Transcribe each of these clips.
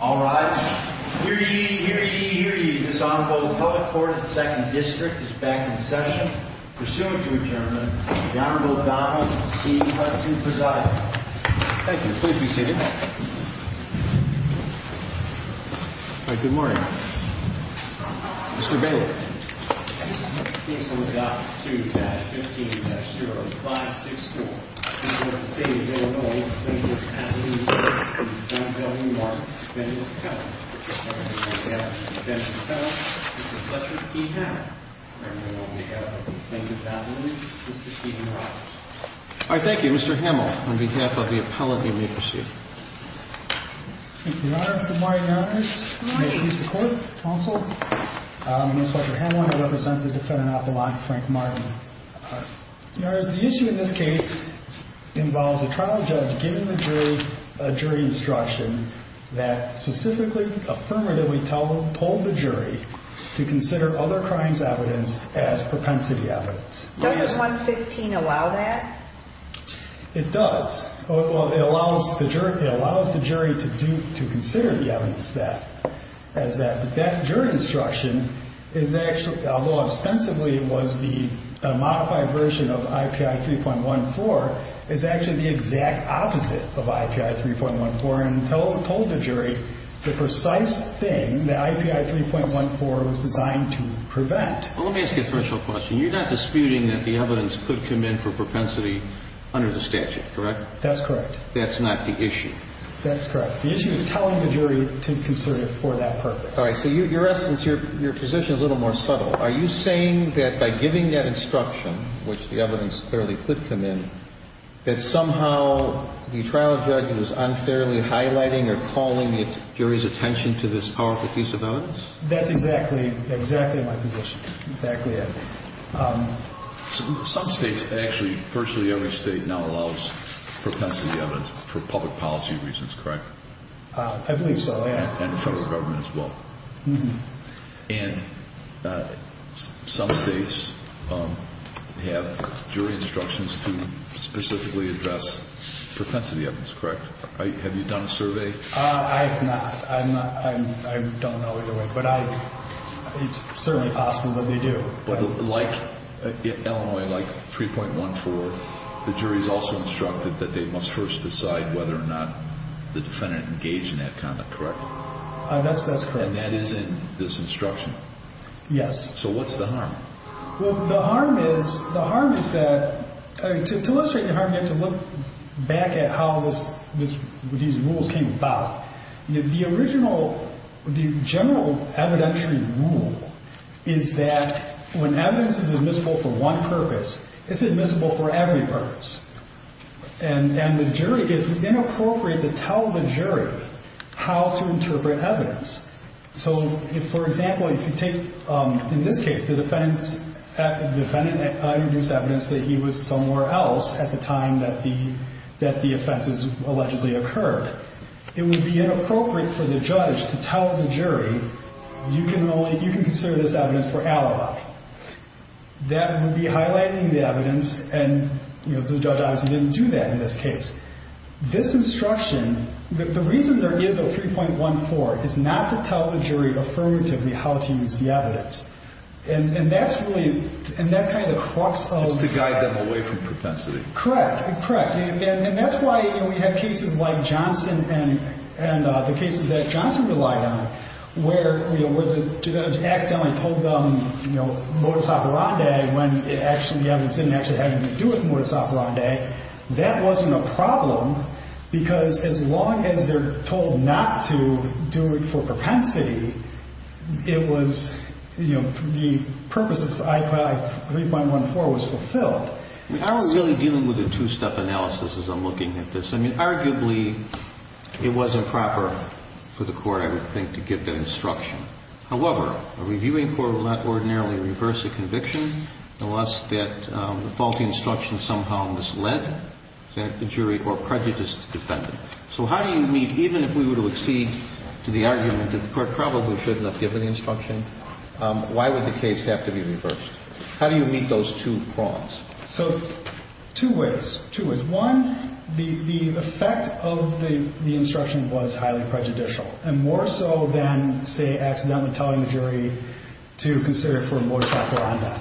All right, here you hear you hear you. This honorable public court of the Second District is back in session. Pursuant to adjournment, the Honorable Donald C. Hudson presiding. Thank you. Please be seated. All right. Good morning. Mr. Bailey. All right. Thank you, Mr. I want to represent the defendant, Apple. I'm Frank Martin. You know, is the issue in this case involves a trial judge? Getting a jury instruction that specifically affirmatively tell pulled the jury to consider other crimes? Evidence as propensity evidence. 15 allow that it does. Well, it allows the jury to do to consider the evidence that as that that jury instruction is actually, although ostensibly it was the modified version of IPI 3.14 is actually the exact opposite of IPI 3.14 and told the jury the precise thing that IPI 3.14 was designed to prevent. Well, let me ask you a special question. You're not disputing that the evidence could come in for propensity under the statute, correct? That's correct. That's not the issue. That's correct. The issue is telling the jury to consider it for that purpose. All right. So your essence, your position is a little more subtle. Are you saying that by giving that instruction, which the evidence clearly could come in, that somehow the trial judge is unfairly highlighting or calling the jury's attention to this powerful piece of evidence? That's exactly exactly my position. Exactly. Some states actually, virtually every state now allows propensity evidence for public policy reasons, correct? I believe so. And the federal government as well. And some states have jury instructions to specifically address propensity evidence, correct? Have you done a survey? I have not. I don't know either way, but it's certainly possible that they do. But like Illinois, like 3.14, the jury is also instructed that they must first decide whether or not the defendant engaged in that comment, correct? That's correct. And that is in this instruction? Yes. So what's the harm? Well, the harm is, the harm is that, to illustrate the harm, you have to look back at how these rules came about. The original, the general evidentiary rule is that when evidence is admissible for one purpose, it's admissible for every purpose. And the jury, it's inappropriate to tell the jury how to interpret evidence. So, for example, if you take, in this case, the defendant introduced evidence that he was somewhere else at the time that the offense allegedly occurred. It would be inappropriate for the judge to tell the jury, you can consider this evidence for alibi. That would be highlighting the evidence, and the judge obviously didn't do that in this case. This instruction, the reason there is a 3.14 is not to tell the jury affirmatively how to use the evidence. And that's really, and that's kind of the crux of... It's to guide them away from propensity. Correct. Correct. And that's why, you know, we have cases like Johnson and the cases that Johnson relied on where, you know, where the judge accidentally told them, you know, that wasn't a problem because as long as they're told not to do it for propensity, it was, you know, the purpose of 3.14 was fulfilled. We aren't really dealing with a two-step analysis as I'm looking at this. I mean, arguably, it was improper for the court, I would think, to give that instruction. However, a reviewing court would not ordinarily reverse a conviction unless that the faulty instruction somehow misled the jury or prejudiced the defendant. So how do you meet, even if we were to accede to the argument that the court probably should not give an instruction, why would the case have to be reversed? How do you meet those two prongs? So two ways, two ways. One, the effect of the instruction was highly prejudicial, and more so than, say, accidentally telling the jury to consider it for more saccharine.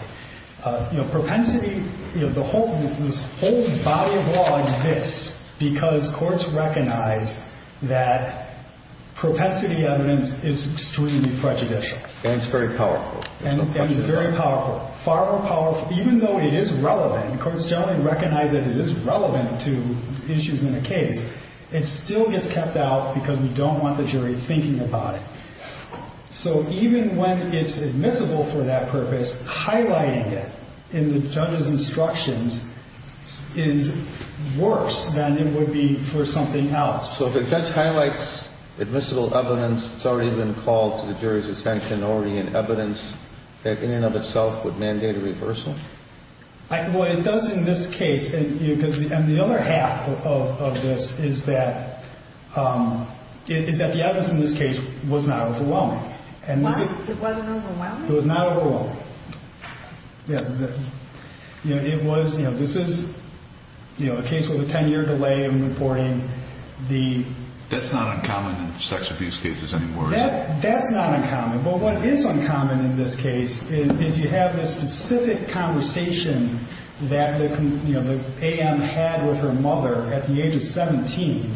You know, propensity, you know, the whole, this whole body of law exists because courts recognize that propensity evidence is extremely prejudicial. And it's very powerful. And it's very powerful. Far more powerful, even though it is relevant, the courts generally recognize that it is relevant to issues in a case, it still gets kept out because we don't want the jury thinking about it. So even when it's admissible for that purpose, highlighting it in the judge's instructions is worse than it would be for something else. So if a judge highlights admissible evidence that's already been called to the jury's attention, already in evidence, that in and of itself would mandate a reversal? Well, it does in this case. And the other half of this is that the evidence in this case was not overwhelming. It wasn't overwhelming? It was not overwhelming. Yes. You know, it was, you know, this is, you know, a case with a 10-year delay in reporting the... That's not uncommon in sex abuse cases anymore, is it? That's not uncommon. But what is uncommon in this case is you have this specific conversation that the, you know, the AM had with her mother at the age of 17,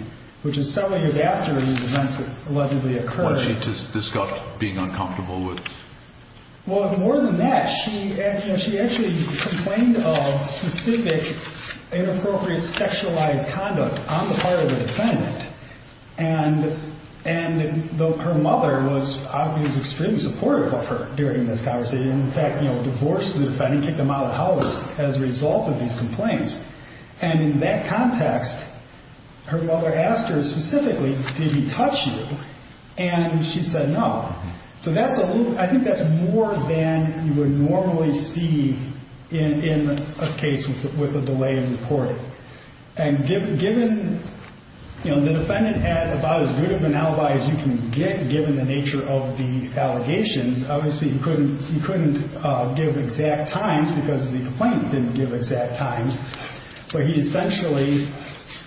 which is several years after these events allegedly occurred. What she just discussed being uncomfortable with. Well, more than that, she actually complained of specific inappropriate sexualized conduct on the part of the defendant. And her mother was obviously extremely supportive of her during this conversation. In fact, you know, divorced the defendant, kicked him out of the house as a result of these complaints. And in that context, her mother asked her specifically, did he touch you? And she said no. So that's a little, I think that's more than you would normally see in a case with a delay in reporting. And given, you know, the defendant had about as good of an alibi as you can get given the nature of the allegations. Obviously, he couldn't give exact times because the complaint didn't give exact times. But he essentially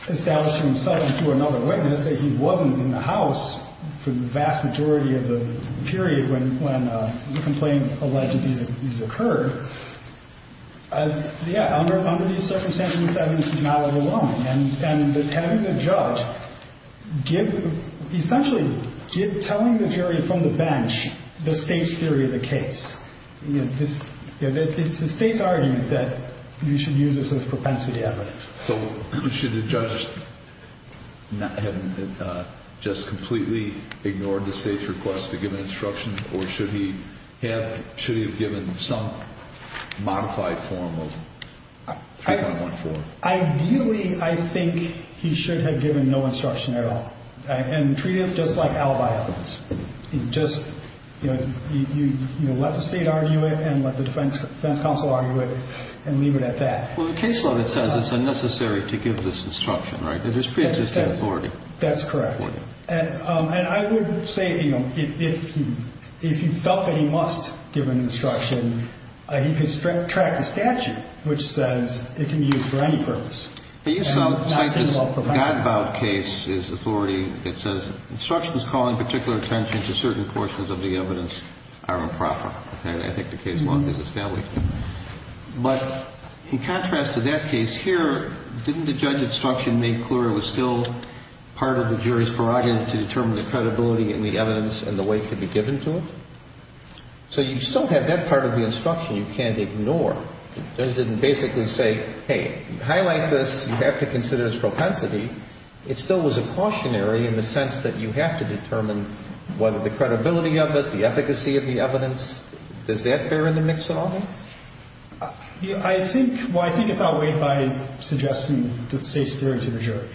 established himself to another witness that he wasn't in the house for the vast majority of the period when the complaint allegedly occurred. Yeah. Under these circumstances, this is not overwhelming. And having the judge give essentially give telling the jury from the bench the state's theory of the case. It's the state's argument that you should use this as propensity evidence. So should the judge have just completely ignored the state's request to give an instruction? Or should he have given some modified form of 3.14? Ideally, I think he should have given no instruction at all. And treated it just like alibi evidence. Just, you know, let the state argue it and let the defense counsel argue it and leave it at that. Well, the caseload, it says it's unnecessary to give this instruction, right? That there's preexisting authority. That's correct. And I would say, you know, if he felt that he must give an instruction, he could track the statute, which says it can be used for any purpose. But you cite this God-bound case's authority that says instructions calling particular attention to certain portions of the evidence are improper. And I think the caseload is established. But in contrast to that case here, didn't the judge's instruction make clear it was still part of the jury's prerogative to determine the credibility and the evidence and the weight to be given to it? So you still have that part of the instruction you can't ignore. The judge didn't basically say, hey, highlight this. You have to consider its propensity. It still was a cautionary in the sense that you have to determine whether the credibility of it, the efficacy of the evidence, does that bear in the mix at all? I think, well, I think it's outweighed by suggesting the state's theory to the jury.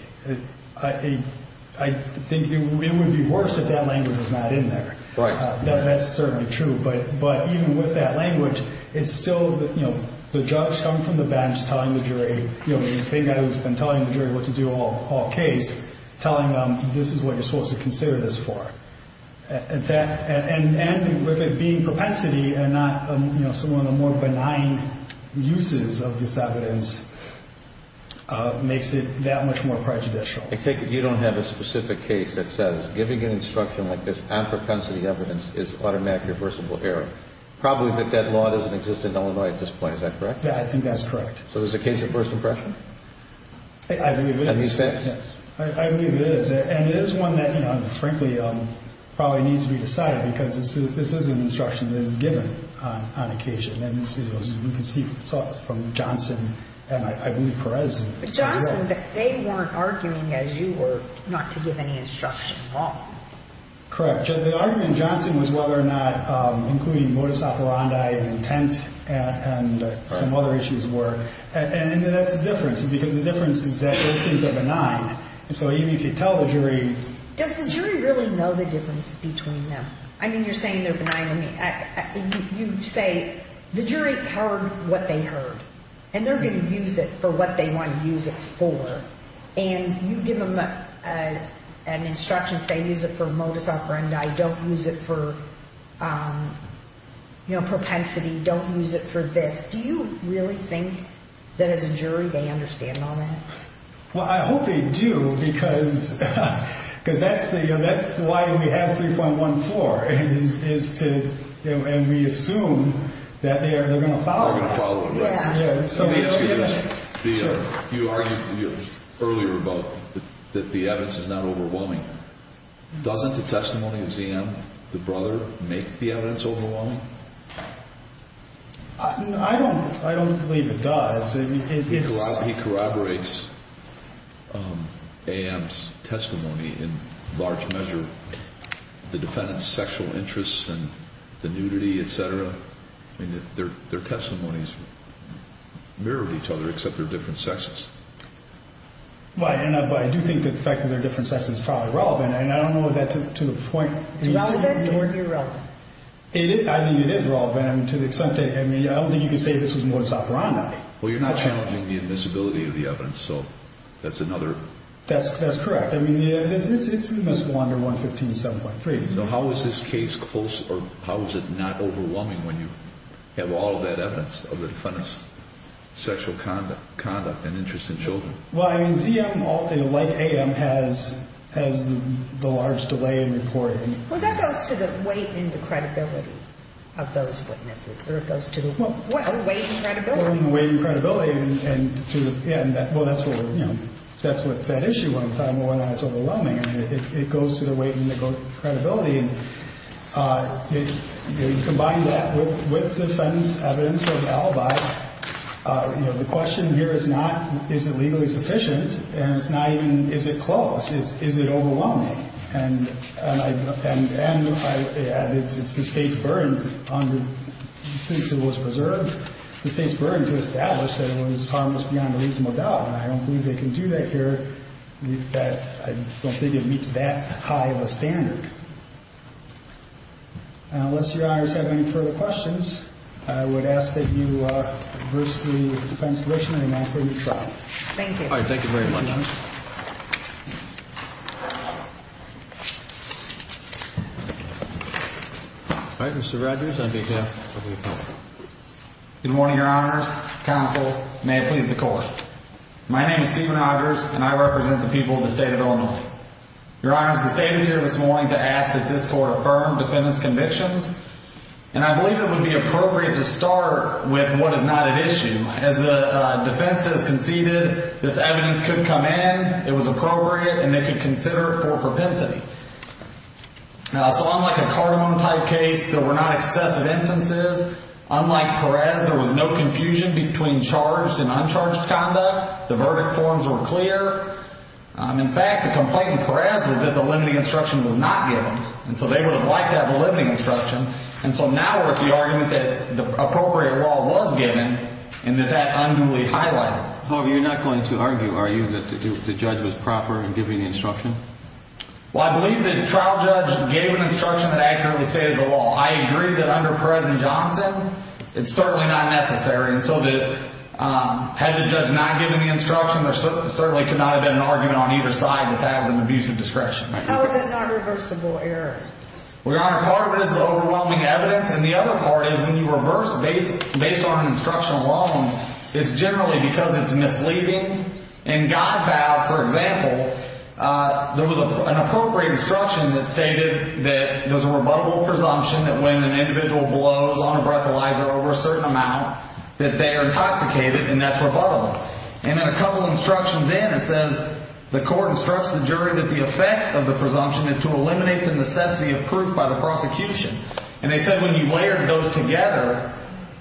I think it would be worse if that language was not in there. Right. That's certainly true. But even with that language, it's still, you know, the judge coming from the bench telling the jury, you know, the same guy who's been telling the jury what to do all case, telling them this is what you're supposed to consider this for. And with it being propensity and not, you know, some of the more benign uses of this evidence makes it that much more prejudicial. I take it you don't have a specific case that says giving an instruction like this on propensity evidence is automatically reversible error. Probably that that law doesn't exist in Illinois at this point. Is that correct? Yeah, I think that's correct. So there's a case of first impression? I believe it is. Yes. I believe it is. And it is one that, you know, frankly probably needs to be decided because this is an instruction that is given on occasion. And you can see from Johnson and I believe Perez. Johnson, they weren't arguing as you were not to give any instruction. Wrong. Correct. The argument Johnson was whether or not including modus operandi intent and some other issues were. And that's the difference, because the difference is that those things are benign. So even if you tell the jury. Does the jury really know the difference between them? I mean, you're saying they're benign. You say the jury heard what they heard and they're going to use it for what they want to use it for. And you give them an instruction saying use it for modus operandi. Don't use it for propensity. Don't use it for this. Do you really think that as a jury they understand all that? Well, I hope they do, because because that's the that's why we have three point one four is to. And we assume that they are going to follow. Yes. You argued earlier about that the evidence is not overwhelming. Doesn't the testimony of ZM, the brother, make the evidence overwhelming? I don't. I don't believe it does. He corroborates A.M.'s testimony in large measure. The defendant's sexual interests and the nudity, et cetera. I mean, their their testimonies mirrored each other, except they're different sexes. Why? And I do think that the fact that they're different sexes is probably relevant. And I don't know that to the point. It's relevant or irrelevant. I think it is relevant to the extent that I mean, I don't think you can say this was modus operandi. Well, you're not challenging the admissibility of the evidence. So that's another. That's that's correct. I mean, it's it's it must go under one fifteen seven point three. So how is this case close or how is it not overwhelming when you have all that evidence of the defendant's sexual conduct, conduct and interest in children? Well, I mean, ZM, like A.M., has has the large delay in reporting. Well, that goes to the weight and the credibility of those witnesses. So it goes to weight and credibility and credibility. And to end that. Well, that's what you know, that's what that issue one time. Well, it's overwhelming. And it goes to the weight and the credibility. And if you combine that with the defense evidence of the alibi, the question here is not is it legally sufficient? And it's not even is it close? Is it overwhelming? And it's the state's burden on the since it was preserved, the state's burden to establish that it was harmless beyond a reasonable doubt. And I don't believe they can do that here. That I don't think it meets that high of a standard. Unless your honors have any further questions. I would ask that you adversely defend the defendant and offer him trial. Thank you. Thank you very much. Counsel. My name is Stephen Rogers and I represent the people of the state of Illinois. Your honor. The state is here this morning to ask that this court affirm defendant's convictions. And I believe it would be appropriate to start with what is not an issue. As the defense has conceded, this evidence couldn't come in. It was appropriate and they could consider it for propensity. So unlike a Cardamom type case, there were not excessive instances. Unlike Perez, there was no confusion between charged and uncharged conduct. The verdict forms were clear. In fact, the complaint in Perez was that the limiting instruction was not given. And so they would have liked to have a limiting instruction. And so now we're at the argument that the appropriate law was given and that that unduly highlighted. However, you're not going to argue, are you, that the judge was proper in giving the instruction? Well, I believe the trial judge gave an instruction that accurately stated the law. I agree that under Perez and Johnson, it's certainly not necessary. And so had the judge not given the instruction, there certainly could not have been an argument on either side that that was an abusive discretion. How is it not reversible error? Well, Your Honor, part of it is the overwhelming evidence. And the other part is when you reverse based on an instructional law, it's generally because it's misleading. In God Bow, for example, there was an appropriate instruction that stated that there's a rebuttable presumption that when an individual blows on a breathalyzer over a certain amount that they are intoxicated and that's rebuttable. And then a couple of instructions in, it says the court instructs the jury that the effect of the presumption is to eliminate the necessity of proof by the prosecution. And they said when you layered those together,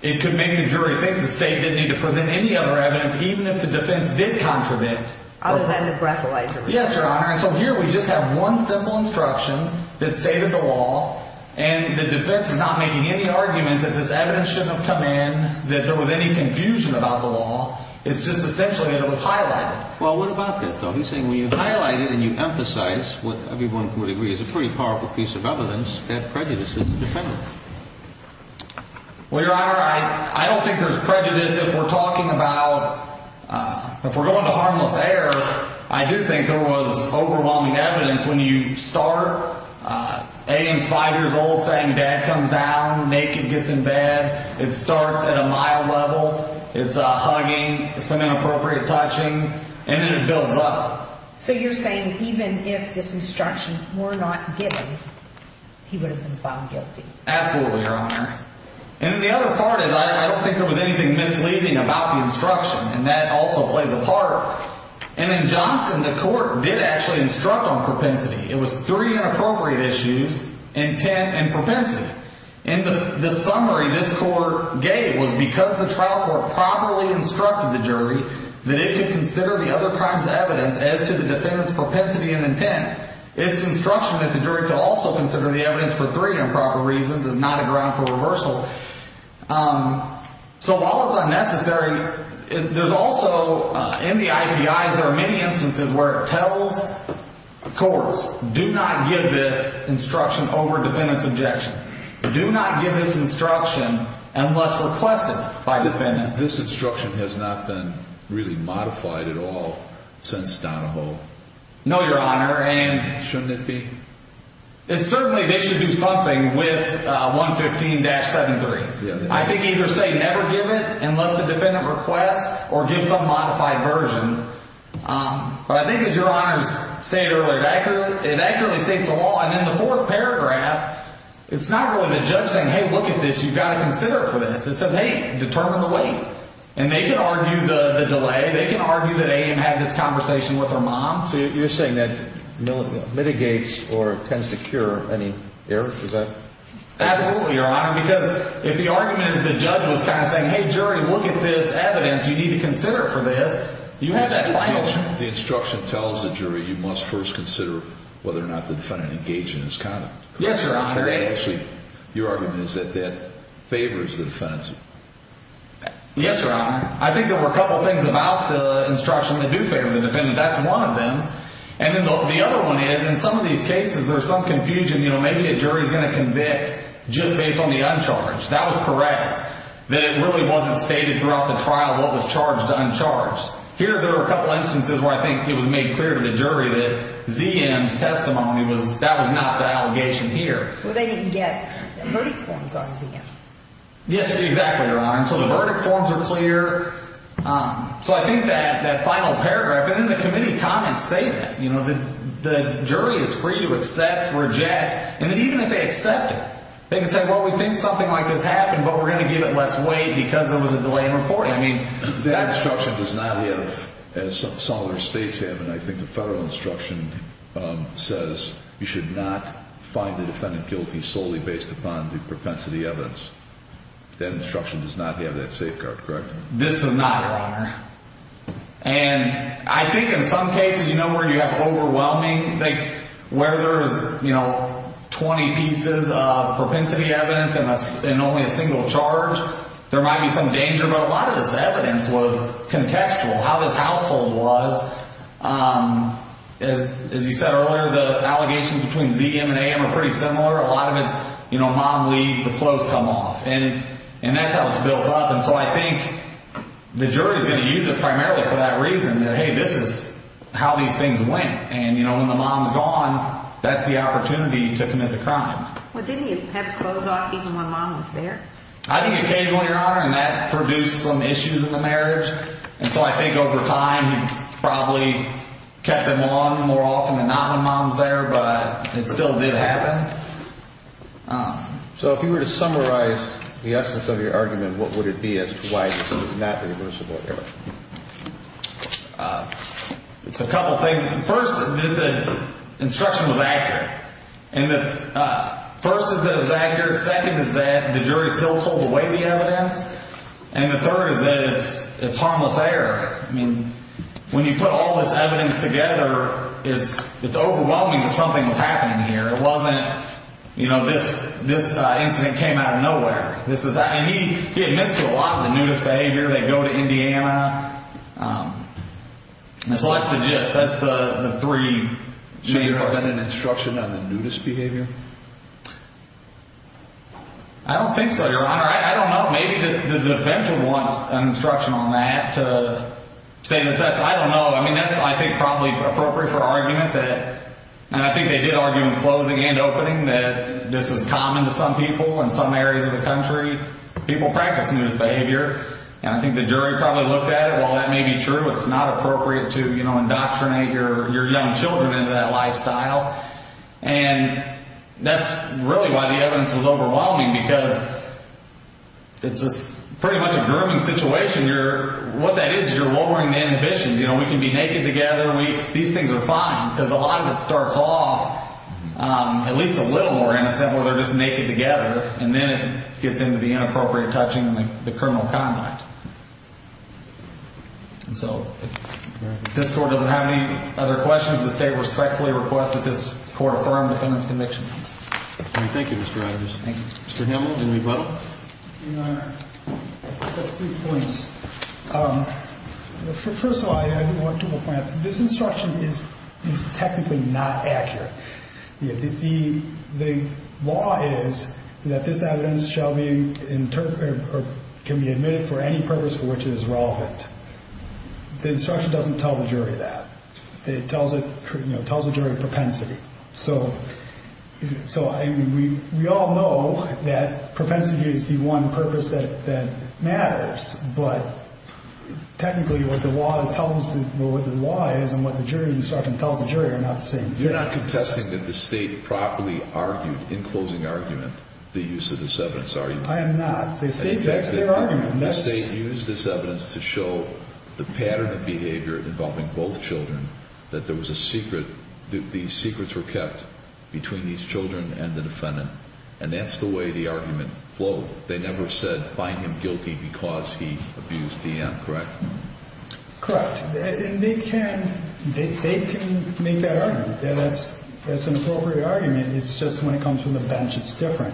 it could make the jury think the state didn't need to present any other evidence, even if the defense did contradict. Other than the breathalyzer. Yes, Your Honor. And so here we just have one simple instruction that stated the law. And the defense is not making any argument that this evidence shouldn't have come in, that there was any confusion about the law. It's just essentially that it was highlighted. Well, what about this, though? He's saying when you highlight it and you emphasize what everyone would agree is a pretty powerful piece of evidence, that prejudice is independent. Well, Your Honor, I don't think there's prejudice if we're talking about, if we're going to harmless air, I do think there was overwhelming evidence when you start. A is five years old, saying dad comes down, naked, gets in bed. It starts at a mild level. It's a hugging, some inappropriate touching. And then it builds up. So you're saying even if this instruction were not given, he would have been found guilty. Absolutely, Your Honor. And then the other part is I don't think there was anything misleading about the instruction. And that also plays a part. And in Johnson, the court did actually instruct on propensity. It was three inappropriate issues, intent and propensity. And the summary this court gave was because the trial court properly instructed the jury that it could consider the other crimes evidence as to the defendant's propensity and intent. Its instruction that the jury could also consider the evidence for three improper reasons is not a ground for reversal. So while it's unnecessary, there's also, in the IPIs, there are many instances where it tells the courts, do not give this instruction over defendant's objection. Do not give this instruction unless requested by defendant. This instruction has not been really modified at all since Donahoe. No, Your Honor. And shouldn't it be? And certainly they should do something with 115-73. I think either say never give it unless the defendant requests or give some modified version. But I think as Your Honor stated earlier, it accurately states the law. And in the fourth paragraph, it's not really the judge saying, hey, look at this. You've got to consider it for this. It says, hey, determine the weight. And they can argue the delay. They can argue that A.M. had this conversation with her mom. So you're saying that mitigates or tends to cure any errors with that? Absolutely, Your Honor, because if the argument is the judge was kind of saying, hey, jury, look at this evidence. You need to consider it for this. You have that final. The instruction tells the jury you must first consider whether or not the defendant engaged in this conduct. Yes, Your Honor. Actually, your argument is that that favors the defendant's. Yes, Your Honor. I think there were a couple things about the instruction that do favor the defendant. That's one of them. And then the other one is in some of these cases, there's some confusion. You know, maybe a jury is going to convict just based on the uncharged. That was Perez, that it really wasn't stated throughout the trial what was charged to uncharged. Here there were a couple instances where I think it was made clear to the jury that Z.M.'s testimony was – that was not the allegation here. Well, they didn't get the verdict forms on Z.M. Yes, exactly, Your Honor. So the verdict forms were clear. So I think that final paragraph, and then the committee comments say that. You know, the jury is free to accept, reject. And even if they accept it, they can say, well, we think something like this happened, but we're going to give it less weight because there was a delay in reporting. I mean, that instruction does not have, as some other states have, and I think the federal instruction says you should not find the defendant guilty solely based upon the propensity evidence. That instruction does not have that safeguard, correct? This does not, Your Honor. And I think in some cases, you know, where you have overwhelming – like where there is, you know, 20 pieces of propensity evidence and only a single charge, there might be some danger, but a lot of this evidence was contextual, how this household was. As you said earlier, the allegations between Z.M. and A.M. are pretty similar. A lot of it's, you know, mom leaves, the clothes come off. And that's how it's built up. And so I think the jury is going to use it primarily for that reason that, hey, this is how these things went. And, you know, when the mom's gone, that's the opportunity to commit the crime. Well, didn't he have his clothes off even when mom was there? I think occasionally, Your Honor, and that produced some issues in the marriage. And so I think over time he probably kept them on more often than not when mom was there. But it still did happen. So if you were to summarize the essence of your argument, what would it be as to why this is not reversible? It's a couple things. First, the instruction was accurate. And the first is that it was accurate. Second is that the jury still pulled away the evidence. And the third is that it's harmless error. I mean, when you put all this evidence together, it's overwhelming that something was happening here. It wasn't, you know, this incident came out of nowhere. And he admits to a lot of the nudist behavior. They go to Indiana. So that's the gist. That's the three main parts. Do you think there was an instruction on the nudist behavior? I don't think so, Your Honor. I don't know. Maybe the defense would want an instruction on that to say that that's, I don't know. I mean, that's, I think, probably appropriate for argument that, and I think they did argue in closing and opening, that this is common to some people in some areas of the country, people practicing this behavior. And I think the jury probably looked at it. While that may be true, it's not appropriate to, you know, indoctrinate your young children into that lifestyle. And that's really why the evidence was overwhelming because it's pretty much a grooming situation here. What that is is you're lowering the inhibitions. You know, we can be naked together. These things are fine because a lot of it starts off at least a little more innocent where they're just naked together, and then it gets into the inappropriate touching and the criminal conduct. And so if this Court doesn't have any other questions, does the State respectfully request that this Court affirm defendant's convictions? Thank you, Mr. Rogers. Thank you. Mr. Himmel, any rebuttal? Your Honor, I have three points. First of all, I want to point out, this instruction is technically not accurate. The law is that this evidence shall be interpreted or can be admitted for any purpose for which it is relevant. The instruction doesn't tell the jury that. It tells the jury propensity. So we all know that propensity is the one purpose that matters, but technically what the law is and what the jury instructing tells the jury are not the same thing. You're not contesting that the State properly argued in closing argument the use of this evidence, are you? I am not. That's their argument. The State used this evidence to show the pattern of behavior involving both children, that there was a secret, these secrets were kept between these children and the defendant, and that's the way the argument flowed. They never said find him guilty because he abused Deanne, correct? Correct. And they can make that argument. That's an appropriate argument. It's just when it comes from the bench, it's different.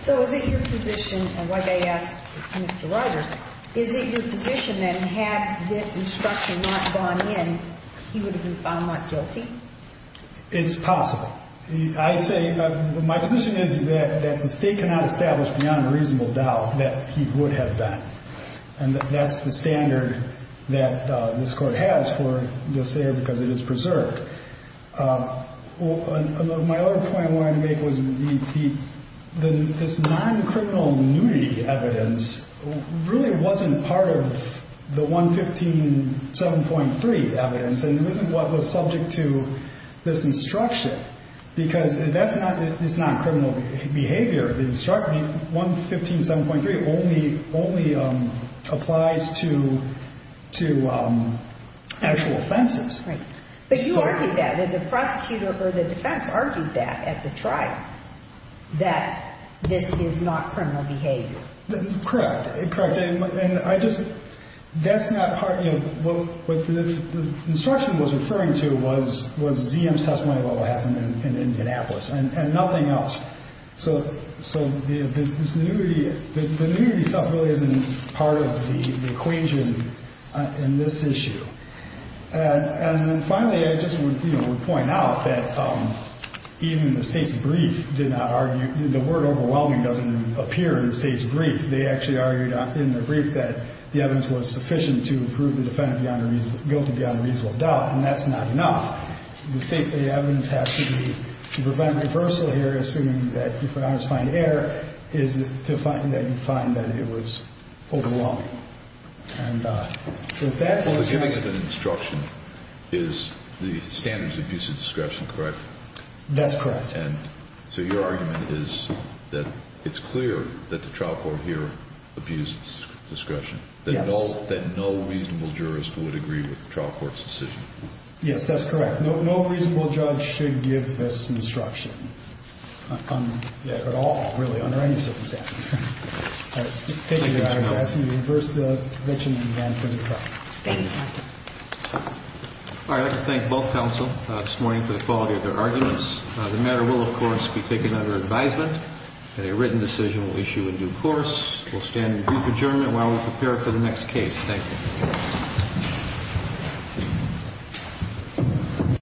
So is it your position, and why they asked Mr. Rogers, is it your position that had this instruction not gone in, he would have been found not guilty? It's possible. I say my position is that the State cannot establish beyond a reasonable doubt that he would have done, and that's the standard that this Court has for this error because it is preserved. My other point I wanted to make was this non-criminal nudity evidence really wasn't part of the 115.7.3 evidence and it wasn't what was subject to this instruction because that's not this non-criminal behavior. The instruction, 115.7.3, only applies to actual offenses. But you argued that. The prosecutor or the defense argued that at the trial, that this is not criminal behavior. Correct. And I just, that's not part, what the instruction was referring to was ZM's testimony about what happened in Indianapolis and nothing else. So this nudity, the nudity itself really isn't part of the equation in this issue. And finally, I just would, you know, would point out that even the State's brief did not argue, the word overwhelming doesn't appear in the State's brief. They actually argued in their brief that the evidence was sufficient to prove the defendant beyond a reasonable, guilty beyond a reasonable doubt, and that's not enough. The State evidence has to be, to prevent reversal here, assuming that you find error, is to find that you find that it was overwhelming. And with that. The giving of an instruction is the standards of abuse of discretion, correct? That's correct. And so your argument is that it's clear that the trial court here abuses discretion. Yes. That no reasonable jurist would agree with the trial court's decision. Yes, that's correct. No reasonable judge should give this instruction at all, really, under any circumstances. All right. Thank you, Your Honors. I ask you to reverse the convention and run for the trial. Thank you. All right. I'd like to thank both counsel this morning for the quality of their arguments. The matter will, of course, be taken under advisement, and a written decision will issue in due course. We'll stand in brief adjournment while we prepare for the next case. Thank you.